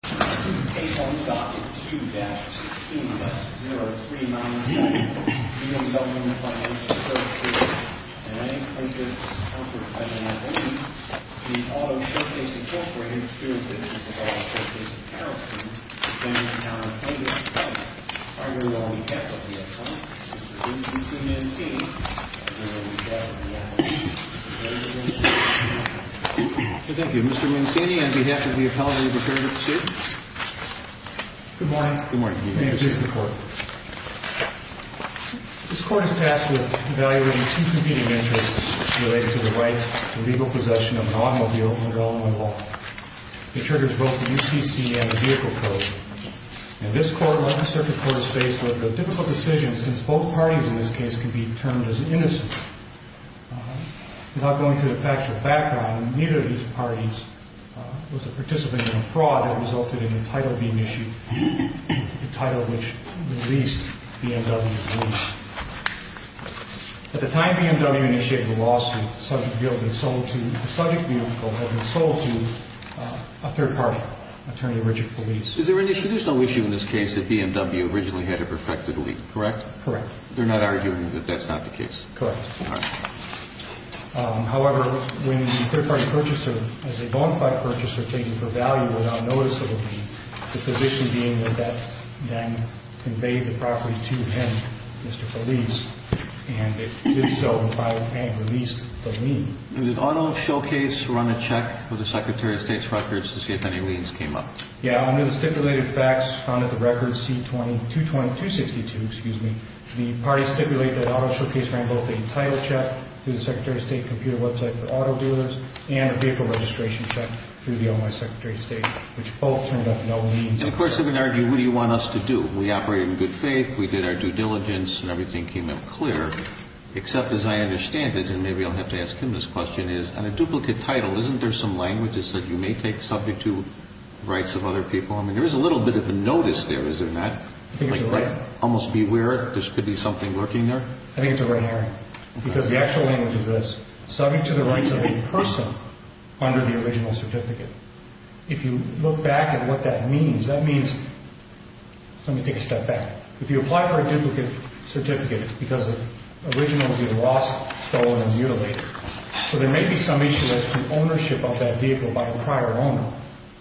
The Auto Showcase, Inc. experiences a disavowal of Showcase and Carrollton, and is now a plaintiff's client. The argument will be kept with the attorney, Mr. Vincent C. Mancini, where we gather the evidence. Thank you. Mr. Mancini, on behalf of the appellate and the prosecutor, sit. Good morning. Good morning. May it please the Court. This Court is tasked with evaluating two competing interests related to the right to legal possession of an automobile under element of law. It triggers both the UCC and the Vehicle Code. This Court, like the Circuit Court, is faced with a difficult decision since both parties in this case can be termed as innocent. Without going into the factual background, neither of these parties was a participant in a fraud that resulted in the title being issued, the title which released BMW Police. At the time BMW initiated the lawsuit, the subject vehicle had been sold to a third party, Attorney Richard Police. Is there an issue? There's no issue in this case that BMW originally had a perfected lien, correct? Correct. They're not arguing that that's not the case? Correct. All right. However, when the third party purchaser, as a bonafide purchaser, taking for value without notice of a lien, the position being that that then conveyed the property to him, Mr. Police, and it did so and released the lien. Did Auto Showcase run a check with the Secretary of State's records to see if any liens came up? Yeah, under the stipulated facts found at the record C-2262, excuse me, the party stipulated that Auto Showcase ran both a title check through the Secretary of State computer website for auto dealers and a vehicle registration check through the OMI Secretary of State, which both turned up no liens. Of course, they're going to argue, what do you want us to do? We operated in good faith, we did our due diligence, and everything came out clear, except, as I understand it, and maybe I'll have to ask him this question, and a duplicate title, isn't there some language that says you may take subject to rights of other people? I mean, there is a little bit of a notice there, is there not? I think it's a right. Like, almost beware, there could be something lurking there? I think it's a right, Aaron, because the actual language is this, subject to the rights of a person under the original certificate. If you look back at what that means, that means, let me take a step back. If you apply for a duplicate certificate because the original would be lost, stolen, and mutilated, so there may be some issue as to ownership of that vehicle by a prior owner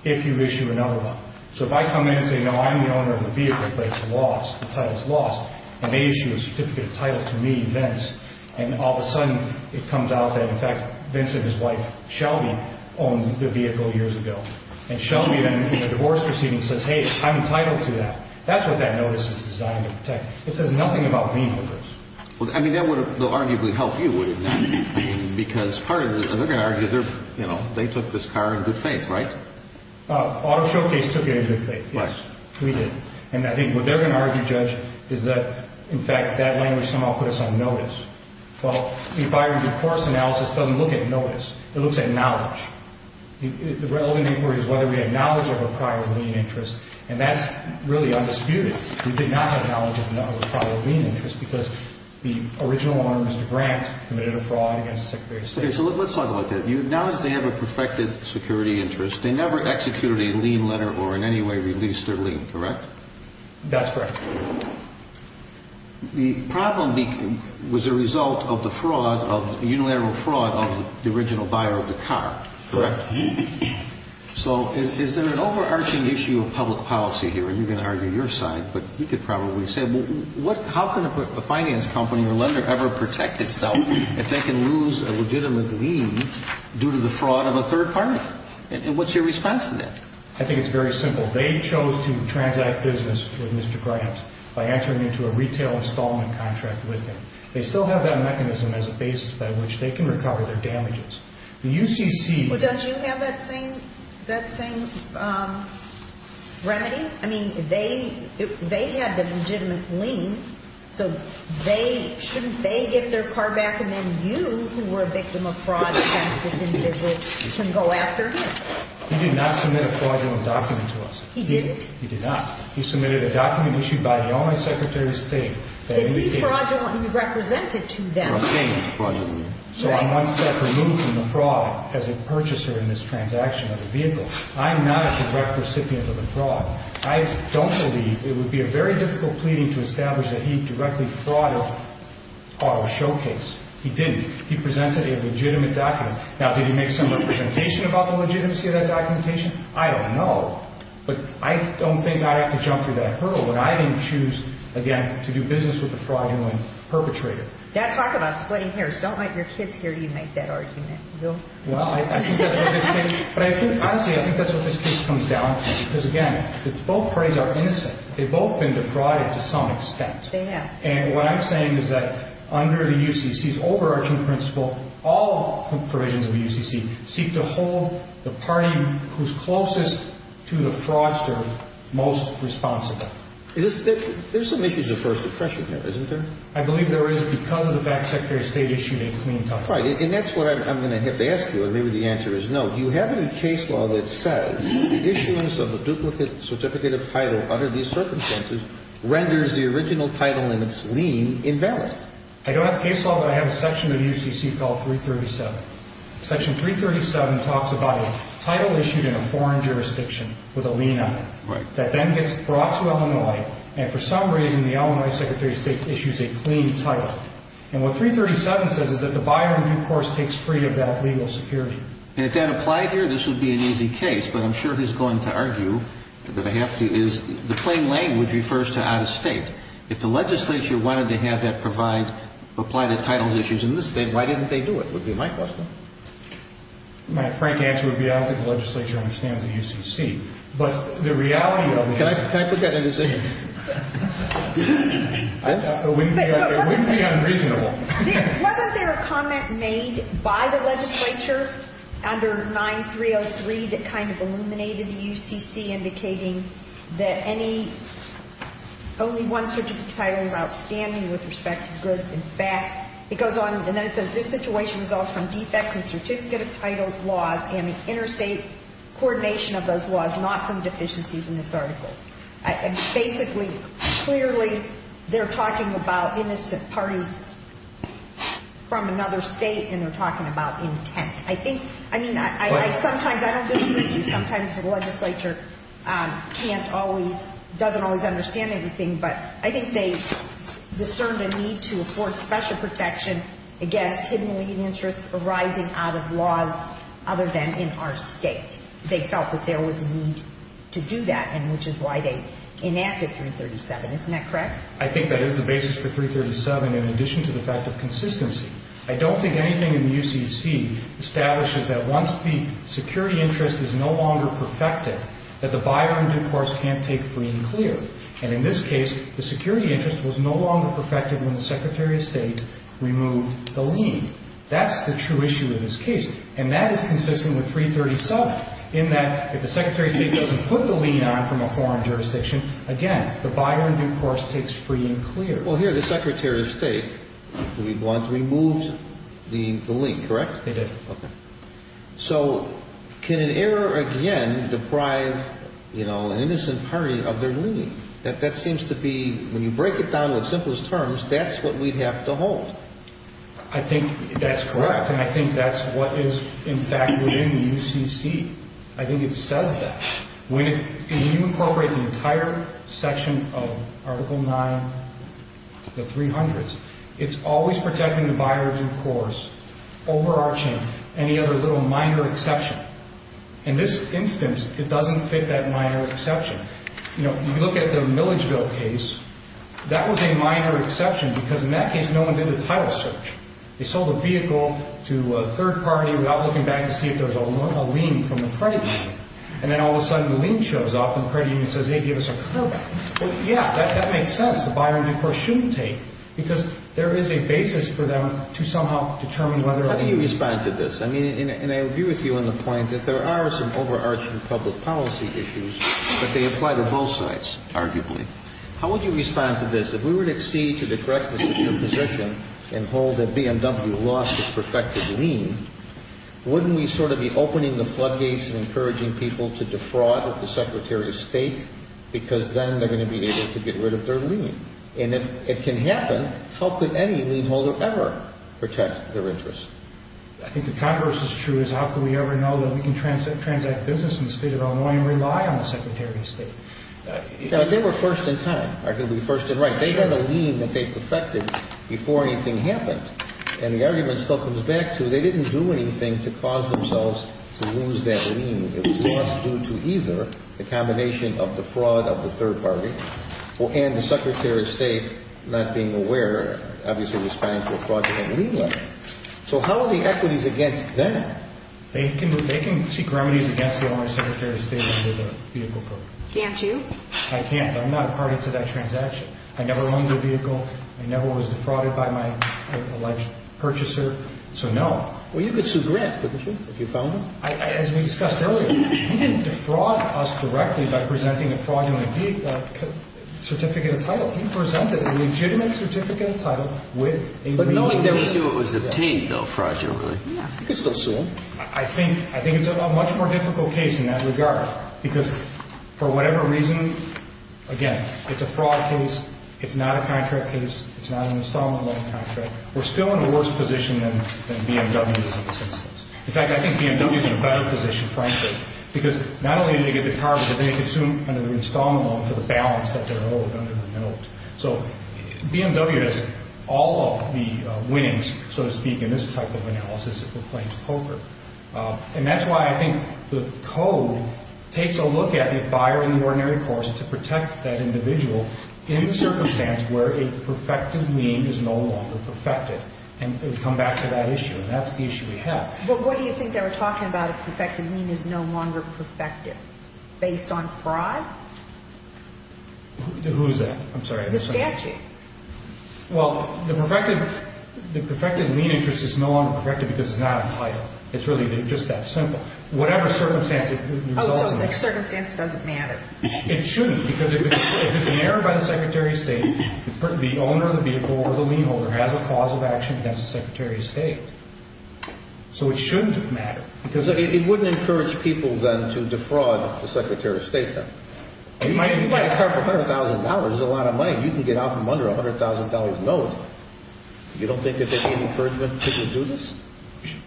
if you issue another one. So if I come in and say, no, I'm the owner of the vehicle, but it's lost, the title's lost, and they issue a certificate of title to me, Vince, and all of a sudden it comes out that, in fact, Vince and his wife, Shelby, owned the vehicle years ago. And Shelby, in the divorce proceeding, says, hey, I'm entitled to that. That's what that notice is designed to protect. It says nothing about me in the notice. Well, I mean, that would have arguably helped you, wouldn't it? Because part of it is they're going to argue they took this car in good faith, right? Auto Showcase took it in good faith, yes. We did. And I think what they're going to argue, Judge, is that, in fact, that language somehow put us on notice. Well, if our divorce analysis doesn't look at notice, it looks at knowledge. The relevant inquiry is whether we had knowledge of a prior lien interest, and that's really undisputed. We did not have knowledge of a prior lien interest because the original owner, Mr. Grant, committed a fraud against the Secretary of State. Okay, so let's talk about that. You acknowledge they have a perfected security interest. They never executed a lien letter or in any way released their lien, correct? That's correct. The problem was the result of the fraud, of unilateral fraud, of the original buyer of the car, correct? So is there an overarching issue of public policy here? You're going to argue your side, but you could probably say, how can a finance company or lender ever protect itself if they can lose a legitimate lien due to the fraud of a third party? And what's your response to that? I think it's very simple. They chose to transact business with Mr. Grant by entering into a retail installment contract with him. They still have that mechanism as a basis by which they can recover their damages. Well, does you have that same remedy? I mean, they had the legitimate lien, so shouldn't they get their car back and then you, who were a victim of fraud against this individual, can go after him? He did not submit a fraudulent document to us. He didn't? He did not. He submitted a document issued by the only Secretary of State that indicated fraudulent. The defraudulent you represented to them. So I'm one step removed from the fraud as a purchaser in this transaction of the vehicle. I'm not a direct recipient of the fraud. I don't believe it would be a very difficult pleading to establish that he directly frauded our showcase. He didn't. He presented a legitimate document. Now, did he make some representation about the legitimacy of that documentation? I don't know, but I don't think I'd have to jump through that hurdle when I didn't choose, again, to do business with a fraudulent perpetrator. Dad, talk about splitting hairs. Don't let your kids hear you make that argument. Well, I think that's what this case comes down to. Because, again, both parties are innocent. They've both been defrauded to some extent. They have. And what I'm saying is that under the UCC's overarching principle, all provisions of the UCC seek to hold the party who's closest to the fraudster most responsible. There's some issues of first impression here, isn't there? I believe there is because of the fact Secretary of State issued a clean title. Right, and that's what I'm going to have to ask you, and maybe the answer is no. Do you have any case law that says issuance of a duplicate certificate of title under these circumstances renders the original title and its lien invalid? I don't have case law, but I have a section of UCC called 337. Section 337 talks about a title issued in a foreign jurisdiction with a lien on it that then gets brought to Illinois, and for some reason the Illinois Secretary of State issues a clean title. And what 337 says is that the buyer in due course takes free of that legal security. And if that applied here, this would be an easy case, but I'm sure he's going to argue that I have to, is the plain language refers to out of state. If the legislature wanted to have that provide, apply to title issues in this state, why didn't they do it, would be my question. My frank answer would be I don't think the legislature understands the UCC. But the reality of the issue. Can I put that in a decision? It wouldn't be unreasonable. Wasn't there a comment made by the legislature under 9303 that kind of illuminated the UCC indicating that any, only one certificate of title is outstanding with respect to goods. In fact, it goes on, and then it says this situation results from defects in certificate of title laws and the interstate coordination of those laws, not from deficiencies in this article. And basically, clearly, they're talking about innocent parties from another state, and they're talking about intent. I think, I mean, I sometimes, I don't disagree with you. Sometimes the legislature can't always, doesn't always understand anything, but I think they discerned a need to afford special protection against hidden lien interests arising out of laws other than in our state. They felt that there was a need to do that, and which is why they enacted 337. Isn't that correct? I think that is the basis for 337, in addition to the fact of consistency. I don't think anything in the UCC establishes that once the security interest is no longer perfected, that the buyer in due course can't take free and clear. And in this case, the security interest was no longer perfected when the Secretary of State removed the lien. That's the true issue of this case. And that is consistent with 337, in that if the Secretary of State doesn't put the lien on from a foreign jurisdiction, again, the buyer in due course takes free and clear. Well, here the Secretary of State, to be blunt, removed the lien, correct? They did. Okay. So can an error again deprive, you know, an innocent party of their lien? That seems to be, when you break it down with simplest terms, that's what we'd have to hold. I think that's correct, and I think that's what is, in fact, within the UCC. I think it says that. When you incorporate the entire section of Article 9, the 300s, it's always protecting the buyer in due course, overarching any other little minor exception. In this instance, it doesn't fit that minor exception. You know, if you look at the Milledgeville case, that was a minor exception because in that case no one did the title search. They sold a vehicle to a third party without looking back to see if there was a lien from the credit union. And then all of a sudden the lien shows up and the credit union says, hey, give us a cutback. Yeah, that makes sense. The buyer in due course shouldn't take because there is a basis for them to somehow determine whether or not. How do you respond to this? I mean, and I agree with you on the point that there are some overarching public policy issues, but they apply to both sides, arguably. How would you respond to this? If we were to accede to the correctness of your position and hold that BMW lost its perfected lien, wouldn't we sort of be opening the floodgates and encouraging people to defraud the Secretary of State because then they're going to be able to get rid of their lien? And if it can happen, how could any lien holder ever protect their interest? I think the converse is true is how could we ever know that we can transact business in the State of Illinois and rely on the Secretary of State? They were first in time, arguably first in right. They got a lien that they perfected before anything happened. And the argument still comes back to they didn't do anything to cause themselves to lose that lien. It was lost due to either the combination of the fraud of the third party and the Secretary of State not being aware, obviously responding to a fraudulent lien letter. So how are the equities against them? They can seek remedies against the Illinois Secretary of State under the vehicle program. Can't you? I can't. I'm not a party to that transaction. I never owned a vehicle. I never was defrauded by my alleged purchaser. So no. Well, you could sue Grant, couldn't you, if you found him? As we discussed earlier, he didn't defraud us directly by presenting a fraudulent certificate of title. He presented a legitimate certificate of title with a lien. But knowing that was what was obtained, though, fraudulently. You could still sue him. I think it's a much more difficult case in that regard because for whatever reason, again, it's a fraud case. It's not a contract case. It's not an installment loan contract. We're still in a worse position than BMW is in this instance. In fact, I think BMW is in a better position, frankly, because not only did they get the car, but they could sue under the installment loan for the balance that they're owed under the note. So BMW has all of the winnings, so to speak, in this type of analysis if we're playing poker. And that's why I think the code takes a look at the buyer in the ordinary course to protect that individual in circumstance where a perfected lien is no longer perfected. And we come back to that issue. And that's the issue we have. But what do you think they were talking about if perfected lien is no longer perfected? Based on fraud? Who is that? I'm sorry. The statute. Well, the perfected lien interest is no longer perfected because it's not a title. It's really just that simple. Whatever circumstance it results in. Oh, so the circumstance doesn't matter. It shouldn't because if it's an error by the Secretary of State, the owner of the vehicle or the lien holder has a cause of action against the Secretary of State. So it shouldn't matter because it wouldn't encourage people then to defraud the Secretary of State then. You might have a car for $100,000. That's a lot of money. You can get out from under $100,000. No, it doesn't. You don't think that there would be any encouragement for people to do this?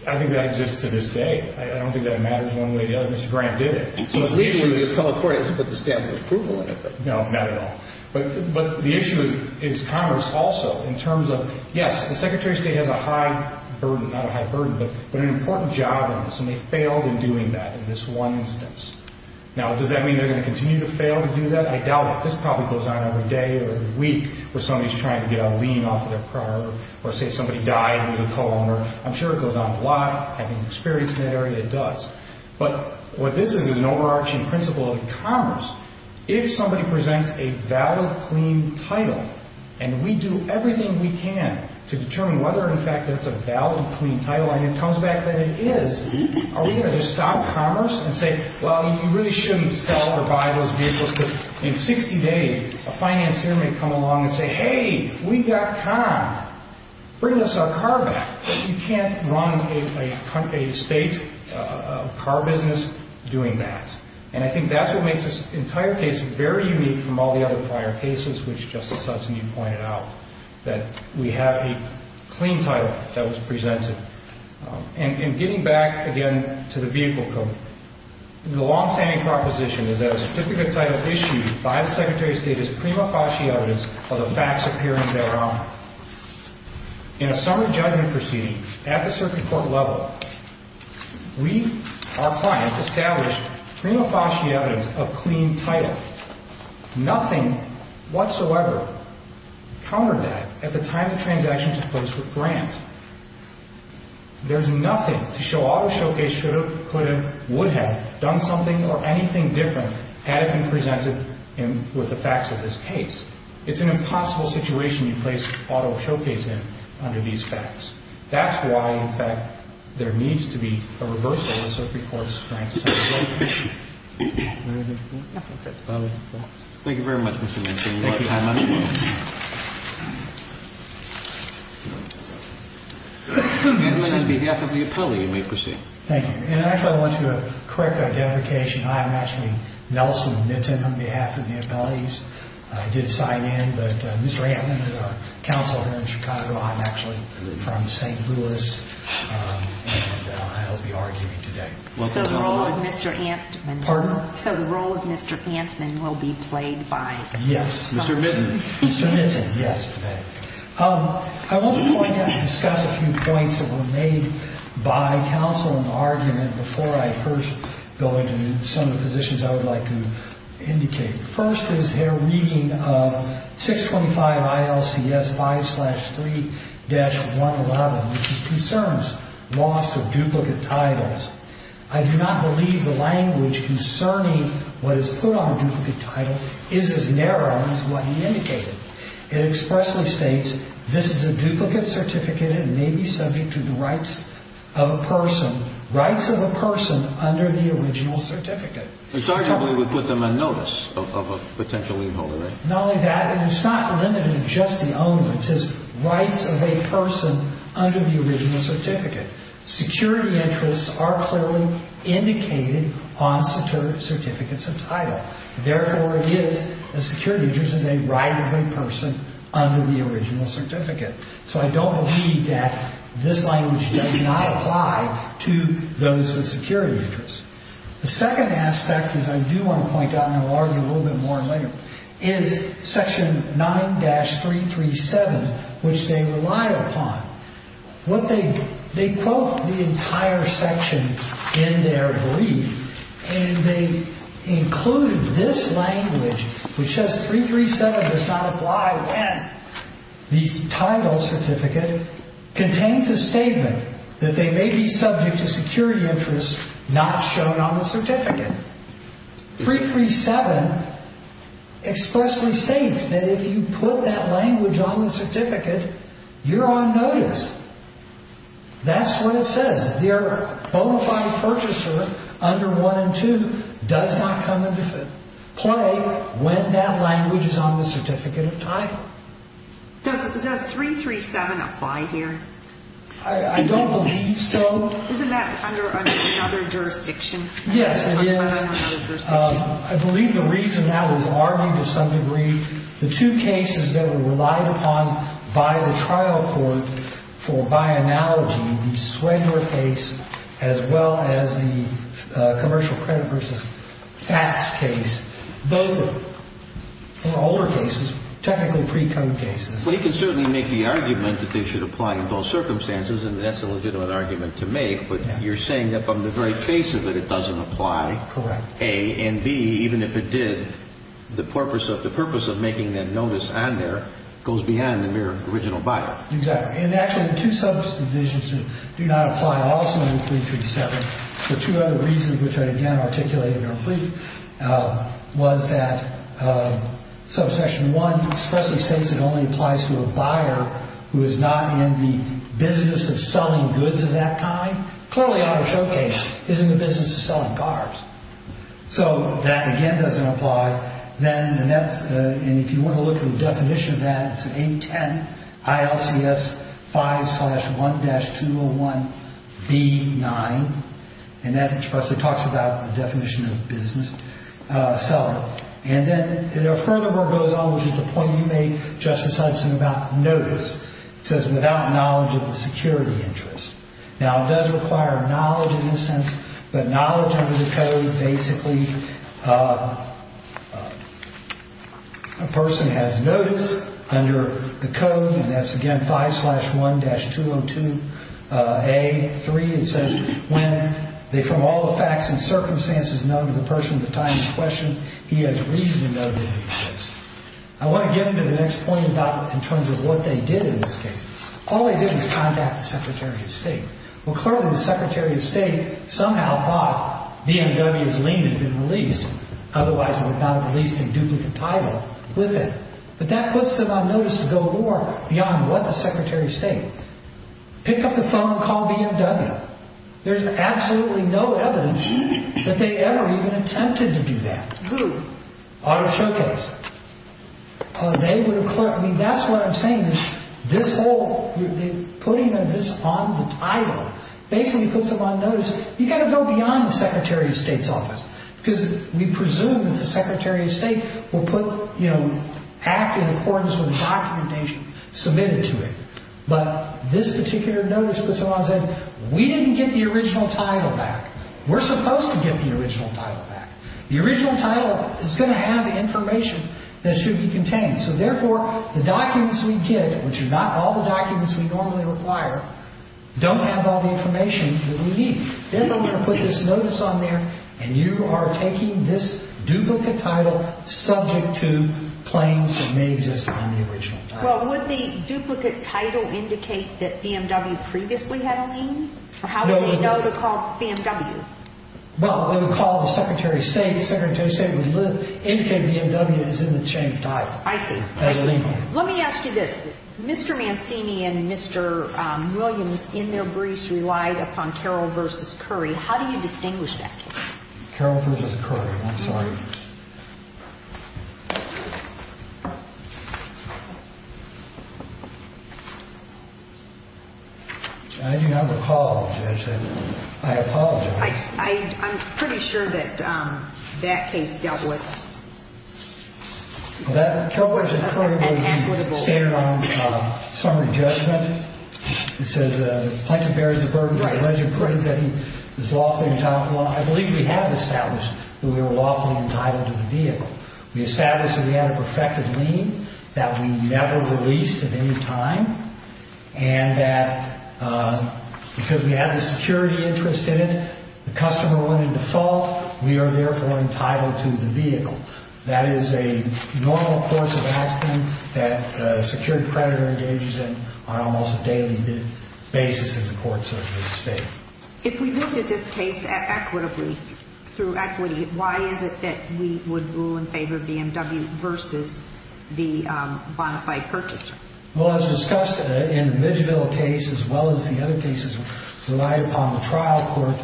I think that exists to this day. I don't think that it matters one way or the other. Mr. Grant did it. So at least when you come to court, you have to put the stamp of approval in it. No, not at all. But the issue is Congress also in terms of, yes, the Secretary of State has a high burden. Not a high burden, but an important job on this. And they failed in doing that in this one instance. Now, does that mean they're going to continue to fail to do that? I doubt it. This probably goes on every day or every week where somebody's trying to get a lien off of their car or say somebody died in the column. I'm sure it goes on a lot. Having experience in that area, it does. But what this is is an overarching principle of e-commerce. If somebody presents a valid, clean title and we do everything we can to determine whether, in fact, that's a valid, clean title and it comes back that it is, are we going to just stop commerce and say, well, you really shouldn't sell or buy those vehicles? Because in 60 days, a financier may come along and say, hey, we got con. Bring us our car back. You can't run a state car business doing that. And I think that's what makes this entire case very unique from all the other prior cases, which Justice Hudson, you pointed out, that we have a clean title that was presented. And getting back, again, to the vehicle code, the longstanding proposition is that a certificate title issued by the Secretary of State is prima facie evidence of the facts appearing thereof. In a summary judgment proceeding at the circuit court level, we, our clients, established prima facie evidence of clean title. Nothing whatsoever countered that at the time the transaction was placed with Grant. There's nothing to show Auto Showcase should have, could have, would have done something or anything different had it been presented with the facts of this case. It's an impossible situation you place Auto Showcase in under these facts. That's why, in fact, there needs to be a reversal of the circuit court's rank. Thank you very much, Mr. Minton. You may proceed. Thank you. And actually, I want to do a quick identification. I am actually Nelson Minton on behalf of the appellees. I did sign in, but Mr. Antman is our counsel here in Chicago. I'm actually from St. Louis. And I'll be arguing today. So the role of Mr. Antman will be played by? Yes. Mr. Minton. Mr. Minton, yes, today. I want to point out and discuss a few points that were made by counsel in the argument before I first go into some of the positions I would like to indicate. First is their reading of 625 ILCS 5-3-111, which concerns loss of duplicate titles. I do not believe the language concerning what is put on a duplicate title is as narrow as what he indicated. It expressly states, this is a duplicate certificate and may be subject to the rights of a person, rights of a person under the original certificate. And so I don't believe it would put them on notice of a potential leave holder, right? Not only that, and it's not limited to just the owner. It says rights of a person under the original certificate. Security interests are clearly indicated on certificates of title. Therefore, it is, the security interest is a right of a person under the original certificate. So I don't believe that this language does not apply to those with security interests. The second aspect is I do want to point out, and I'll argue a little bit more later, is section 9-337, which they rely upon. What they, they quote the entire section in their brief, and they include this language which says 337 does not apply when the title certificate contains a statement that they may be subject to security interests not shown on the certificate. 337 expressly states that if you put that language on the certificate, you're on notice. That's what it says. Their bona fide purchaser under 1 and 2 does not come into play when that language is on the certificate of title. Does 337 apply here? I don't believe so. Isn't that under another jurisdiction? Yes, it is. I believe the reason that was argued to some degree, the two cases that were relied upon by the trial court for by analogy, the Swenger case as well as the commercial credit versus FATS case, both of them, or older cases, technically pre-code cases. Well, you can certainly make the argument that they should apply in both circumstances, and that's a legitimate argument to make. But you're saying that from the very face of it, it doesn't apply. Correct. A. And B, even if it did, the purpose of the purpose of making that notice on there goes beyond the mere original bio. Exactly. And actually, the two subdivisions do not apply also in 337. The two other reasons, which I again articulate in your brief, was that subsection 1 especially states it only applies to a buyer who is not in the business of selling goods of that kind. Clearly, on the showcase, he's in the business of selling cars. So that again doesn't apply. And if you want to look at the definition of that, it's an 810 ILCS 5-1-201B9. And that expressly talks about the definition of business seller. And then it furthermore goes on, which is a point you made, Justice Hudson, about notice. It says, without knowledge of the security interest. Now, it does require knowledge in this sense, but knowledge under the code basically a person has notice under the code, and that's again 5-1-202A3. It says, from all the facts and circumstances known to the person at the time in question, he has reason to know that he exists. I want to get into the next point in terms of what they did in this case. All they did was contact the Secretary of State. Well, clearly, the Secretary of State somehow thought BMW's lien had been released. Otherwise, it would not have released a duplicate title with it. But that puts them on notice to go more beyond what the Secretary of State. Pick up the phone and call BMW. There's absolutely no evidence that they ever even attempted to do that. Who? Auto Showcase. I mean, that's what I'm saying is this whole putting this on the title basically puts them on notice. You've got to go beyond the Secretary of State's office because we presume that the Secretary of State will act in accordance with the documentation submitted to it. But this particular notice puts them on as if we didn't get the original title back. We're supposed to get the original title back. The original title is going to have information that should be contained. So, therefore, the documents we get, which are not all the documents we normally require, don't have all the information that we need. Therefore, we're going to put this notice on there, and you are taking this duplicate title subject to claims that may exist on the original title. Well, would the duplicate title indicate that BMW previously had a lien? How do they know to call BMW? Well, when we call the Secretary of State, the Secretary of State would indicate BMW is in the changed title. I see. Let me ask you this. Mr. Mancini and Mr. Williams in their briefs relied upon Carroll v. Curry. How do you distinguish that case? Carroll v. Curry. I'm sorry. I do not recall, Judge. I apologize. I'm pretty sure that that case dealt with. Well, Carroll v. Curry was standard on summary judgment. It says the plaintiff bears the burden of alleged credit that he was lawfully entitled. Well, I believe we have established that we were lawfully entitled to the vehicle. We established that we had a perfected lien, that we never released at any time, and that because we had the security interest in it, the customer went into fault, we are therefore entitled to the vehicle. That is a normal course of action that a security creditor engages in on almost a daily basis in the courts of this state. If we looked at this case equitably through equity, why is it that we would rule in favor of BMW versus the bona fide purchaser? Well, as discussed in the Midgeville case as well as the other cases relied upon the trial court,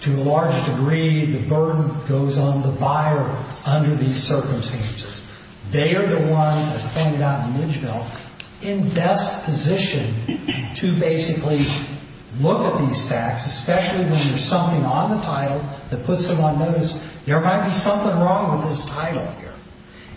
to a large degree the burden goes on the buyer under these circumstances. They are the ones, as pointed out in Midgeville, in best position to basically look at these facts, especially when there's something on the title that puts them on notice. There might be something wrong with this title here.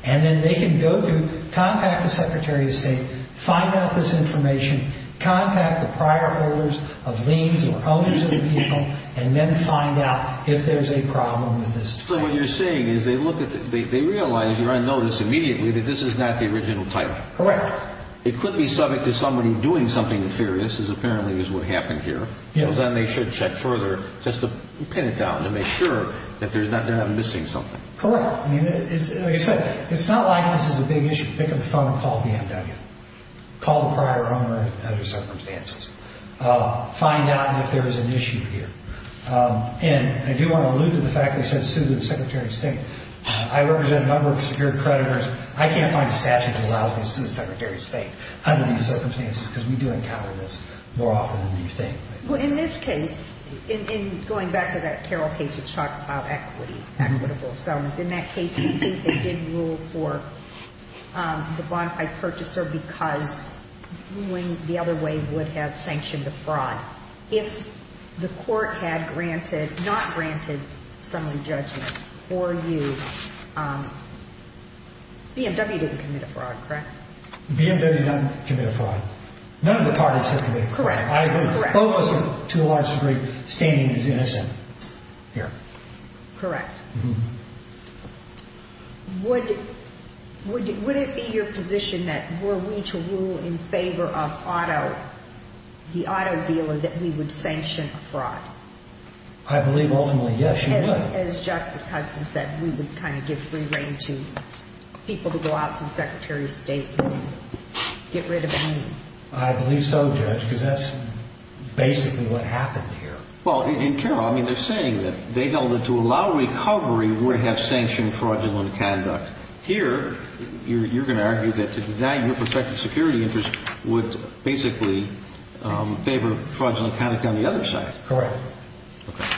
And then they can go through, contact the Secretary of State, find out this information, contact the prior holders of liens or owners of the vehicle, and then find out if there's a problem with this title. So what you're saying is they realize you're on notice immediately that this is not the original title. Correct. It could be subject to somebody doing something nefarious, as apparently is what happened here. Yes. So then they should check further just to pin it down, to make sure that they're not missing something. Correct. Like I said, it's not like this is a big issue. Pick up the phone and call BMW. Call the prior owner under certain circumstances. Find out if there is an issue here. And I do want to allude to the fact they said sue the Secretary of State. I represent a number of secure creditors. I can't find a statute that allows me to sue the Secretary of State under these circumstances, because we do encounter this more often than you think. Well, in this case, in going back to that Carroll case, which talks about equity, equitable settlements, in that case, they think they didn't rule for the bonafide purchaser because ruling the other way would have sanctioned the fraud. If the court had granted, not granted, someone judgment for you, BMW didn't commit a fraud, correct? BMW didn't commit a fraud. None of the parties have committed a fraud. Correct. Both of us, to a large degree, standing as innocent here. Correct. Would it be your position that were we to rule in favor of auto, the auto dealer, that we would sanction a fraud? I believe ultimately, yes, you would. And as Justice Hudson said, we would kind of give free rein to people to go out to the Secretary of State and get rid of any. I believe so, Judge, because that's basically what happened here. Well, in Carroll, I mean, they're saying that they held that to allow recovery would have sanctioned fraudulent conduct. Here, you're going to argue that to deny your perspective security interest would basically favor fraudulent conduct on the other side. Correct. Okay.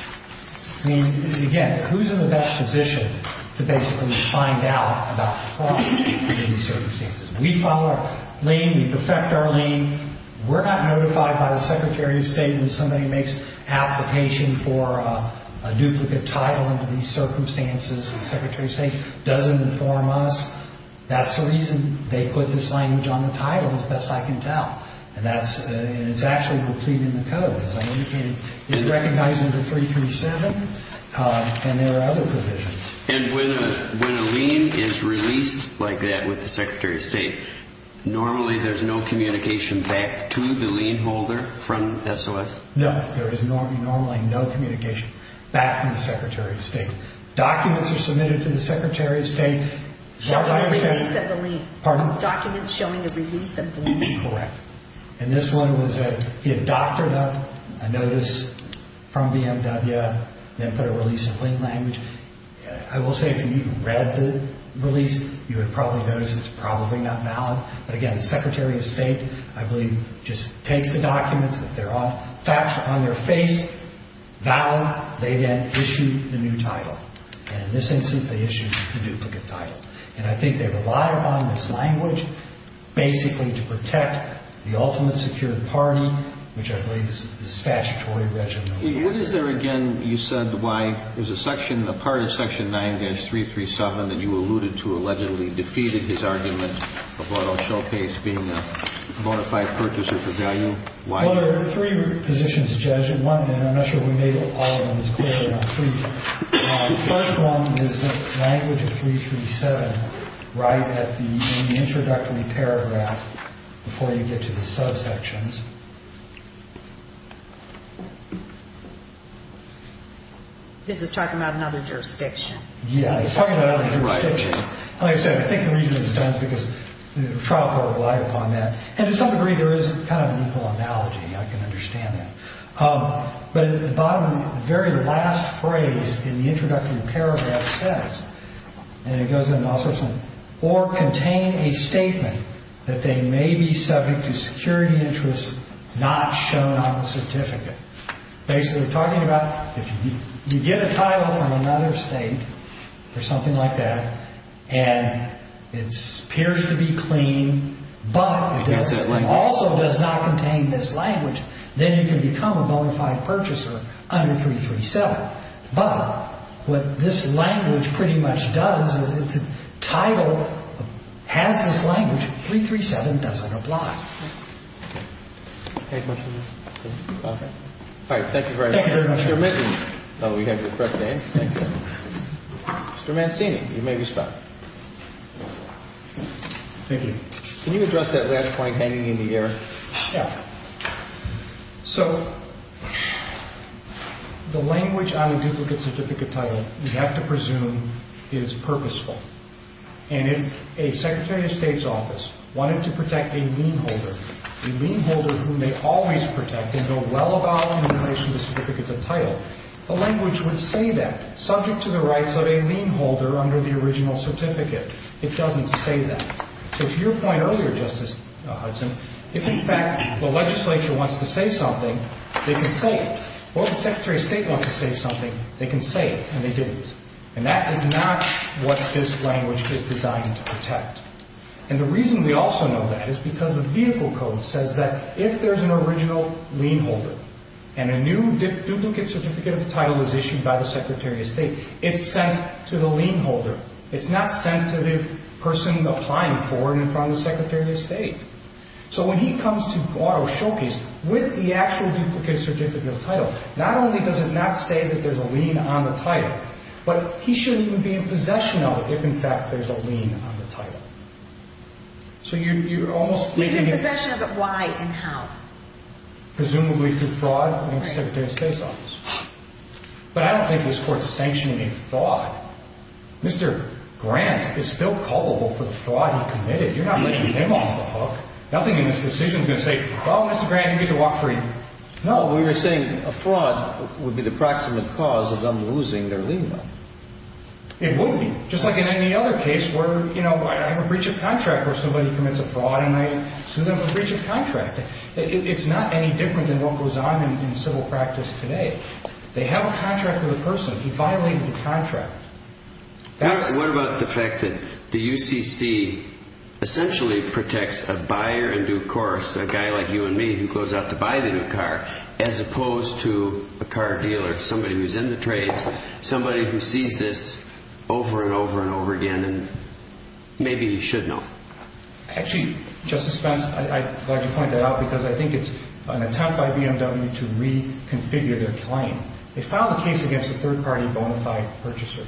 I mean, again, who's in the best position to basically find out about fraud in these circumstances? We file our lien. We perfect our lien. We're not notified by the Secretary of State when somebody makes application for a duplicate title under these circumstances. The Secretary of State doesn't inform us. That's the reason they put this language on the title, as best I can tell. And it's actually completed in the code, as I indicated. It's recognized under 337, and there are other provisions. And when a lien is released like that with the Secretary of State, normally there's no communication back to the lien holder from SOS? No. There is normally no communication back from the Secretary of State. Documents are submitted to the Secretary of State. Showing a release of the lien. Pardon? Documents showing a release of the lien. Correct. And this one was that he had doctored up a notice from BMW, then put a release of lien language. I will say, if you even read the release, you would probably notice it's probably not valid. But again, the Secretary of State, I believe, just takes the documents. If they're on their face, valid. They then issue the new title. And in this instance, they issued the duplicate title. And I think they relied upon this language basically to protect the ultimate secured party, which I believe is statutory regimen. What is there again, you said, why is a section, a part of section 9-337 that you alluded to allegedly defeated his argument about a showcase being a bona fide purchaser for value? Why? Well, there are three positions, Judge. And one, and I'm not sure we made all of them as clear. The first one is the language of 337 right at the introductory paragraph before you get to the subsections. This is talking about another jurisdiction. Yeah, it's talking about another jurisdiction. Like I said, I think the reason it was done is because the trial court relied upon that. And to some degree, there is kind of an equal analogy, I can understand that. But at the bottom, the very last phrase in the introductory paragraph says, and it goes into all sorts of things, or contain a statement that they may be subject to security interests not shown on the certificate. Basically, we're talking about if you get a title from another state or something like that, and it appears to be clean, but it also does not contain this language, then you can become a bona fide purchaser under 337. But what this language pretty much does is if the title has this language, 337 doesn't apply. All right. Thank you very much. Thank you very much. Mr. Mitnick. Oh, we have the correct name. Mr. Mancini, you may respond. Thank you. Can you address that last point hanging in the air? Yeah. So the language on a duplicate certificate title, you have to presume is purposeful. And if a Secretary of State's office wanted to protect a lien holder, a lien holder whom they always protect and know well about in relation to certificates of title, the language would say that, subject to the rights of a lien holder under the original certificate. It doesn't say that. So to your point earlier, Justice Hudson, if, in fact, the legislature wants to say something, they can say it. Or if the Secretary of State wants to say something, they can say it and they didn't. And that is not what this language is designed to protect. And the reason we also know that is because the vehicle code says that if there's an original lien holder and a new duplicate certificate of title is issued by the Secretary of State, it's sent to the lien holder. It's not sent to the person applying for it in front of the Secretary of State. So when he comes to auto showcase with the actual duplicate certificate of title, not only does it not say that there's a lien on the title, but he shouldn't even be in possession of it if, in fact, there's a lien on the title. So you're almost leaving the question. He's in possession of it. Why and how? Presumably through fraud in the Secretary of State's office. But I don't think this Court is sanctioning a fraud. Mr. Grant is still culpable for the fraud he committed. You're not letting him off the hook. Nothing in this decision is going to say, well, Mr. Grant, you need to walk free. No. We were saying a fraud would be the proximate cause of them losing their lien. It would be. Just like in any other case where, you know, I have a breach of contract where somebody commits a fraud and I sue them for breach of contract. It's not any different than what goes on in civil practice today. They have a contract with a person. He violated the contract. What about the fact that the UCC essentially protects a buyer in due course, a guy like you and me who goes out to buy the new car, as opposed to a car dealer, somebody who's in the trades, somebody who sees this over and over and over again and maybe should know? Actually, Justice Spence, I'd like to point that out because I think it's an attempt by BMW to reconfigure their claim. They filed a case against a third-party bonafide purchaser.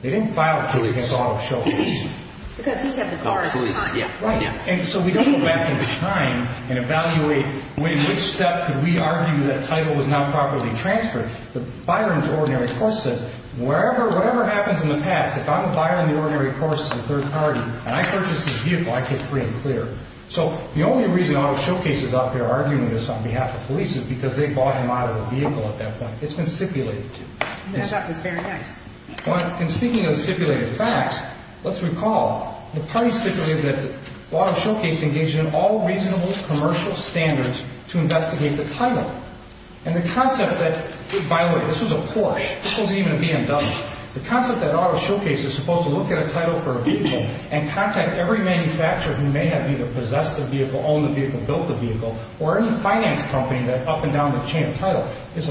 They didn't file a case against Auto Showcase. Because he had the car in his hand. Right. And so we don't go back in time and evaluate in which step could we argue that title was not properly transferred. The buyer in due ordinary course says, whatever happens in the past, if I'm a buyer in the ordinary course, a third party, and I purchase this vehicle, I get free and clear. So the only reason Auto Showcase is out there arguing this on behalf of police is because they bought him out of the vehicle at that point. It's been stipulated. That's very nice. In speaking of stipulated facts, let's recall, the parties stipulated that Auto Showcase engaged in all reasonable commercial standards to investigate the title. And the concept that, by the way, this was a Porsche. This wasn't even a BMW. The concept that Auto Showcase is supposed to look at a title for a vehicle and contact every manufacturer who may have either possessed the vehicle, owned the vehicle, built the vehicle, or any finance company that up and down the chain of title is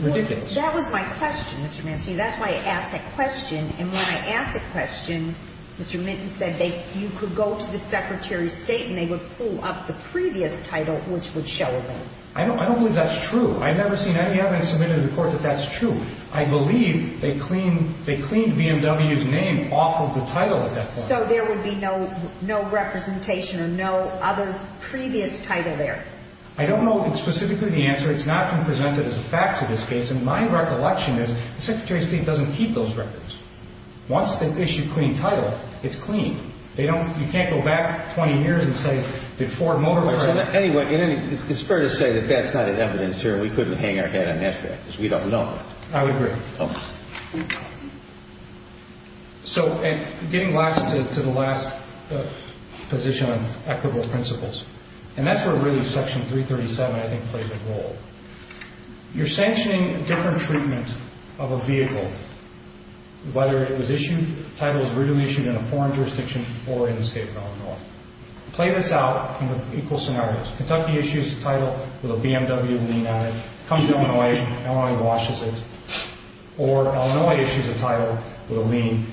ridiculous. That was my question, Mr. Manci. That's why I asked that question. And when I asked the question, Mr. Minton said you could go to the Secretary of State and they would pull up the previous title, which would show a name. I don't believe that's true. I've never seen any evidence submitted to the court that that's true. I believe they cleaned BMW's name off of the title at that point. So there would be no representation or no other previous title there? I don't know specifically the answer. It's not been presented as a fact to this case. And my recollection is the Secretary of State doesn't keep those records. Once they issue clean title, it's clean. You can't go back 20 years and say did Ford Motor Company. Anyway, it's fair to say that that's not an evidence here. We couldn't hang our head on that fact because we don't know. I would agree. So getting to the last position on equitable principles, and that's where really Section 337 I think plays a role. You're sanctioning a different treatment of a vehicle, whether it was issued, the title was originally issued in a foreign jurisdiction or in the state of Illinois. Play this out in equal scenarios. Kentucky issues the title with a BMW lean on it. It comes to Illinois. Illinois washes it. Or Illinois issues a title with a lean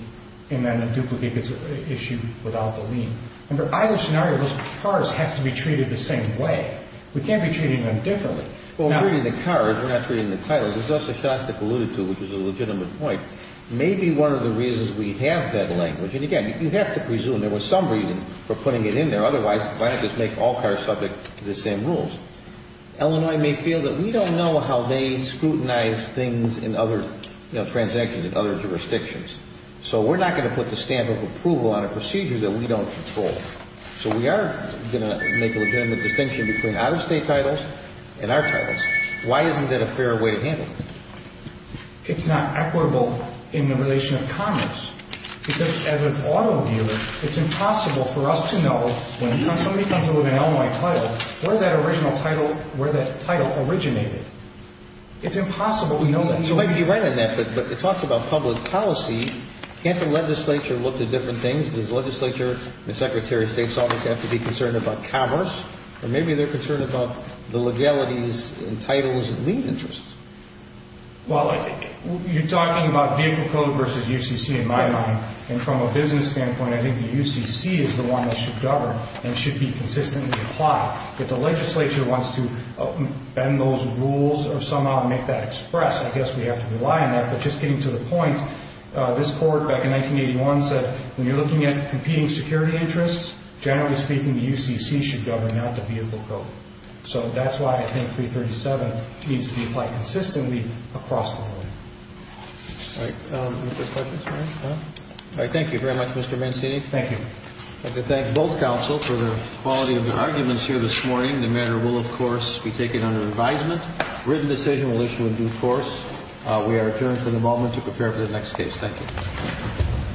and then a duplicate gets issued without the lean. Remember, either scenario, those cars have to be treated the same way. We can't be treating them differently. Well, we're treating the car. We're not treating the title. As Justice Shostak alluded to, which was a legitimate point, maybe one of the reasons we have that language, and, again, you have to presume there was some reason for putting it in there. Otherwise, why not just make all cars subject to the same rules? Illinois may feel that we don't know how they scrutinize things in other transactions in other jurisdictions. So we're not going to put the stamp of approval on a procedure that we don't control. So we are going to make a legitimate distinction between out-of-state titles and our titles. Why isn't that a fair way to handle it? It's not equitable in the relation of commerce because as an auto dealer, it's impossible for us to know when somebody comes in with an Illinois title, where that original title, where that title originated. It's impossible. We know that. You might be right on that, but it talks about public policy. Can't the legislature look to different things? Does the legislature and the Secretary of State always have to be concerned about commerce? Or maybe they're concerned about the legalities and titles and lien interests. Well, you're talking about vehicle code versus UCC in my mind, and from a business standpoint, I think the UCC is the one that should govern and should be consistently applied. If the legislature wants to bend those rules or somehow make that express, I guess we have to rely on that. But just getting to the point, this Court back in 1981 said, when you're looking at competing security interests, generally speaking, the UCC should govern, not the vehicle code. So that's why I think 337 needs to be applied consistently across the board. All right. Any other questions? All right. Thank you very much, Mr. Mancini. Thank you. I'd like to thank both counsel for the quality of your arguments here this morning. The matter will, of course, be taken under advisement. Written decision will issue in due course. We are adjourned for the moment to prepare for the next case. Thank you.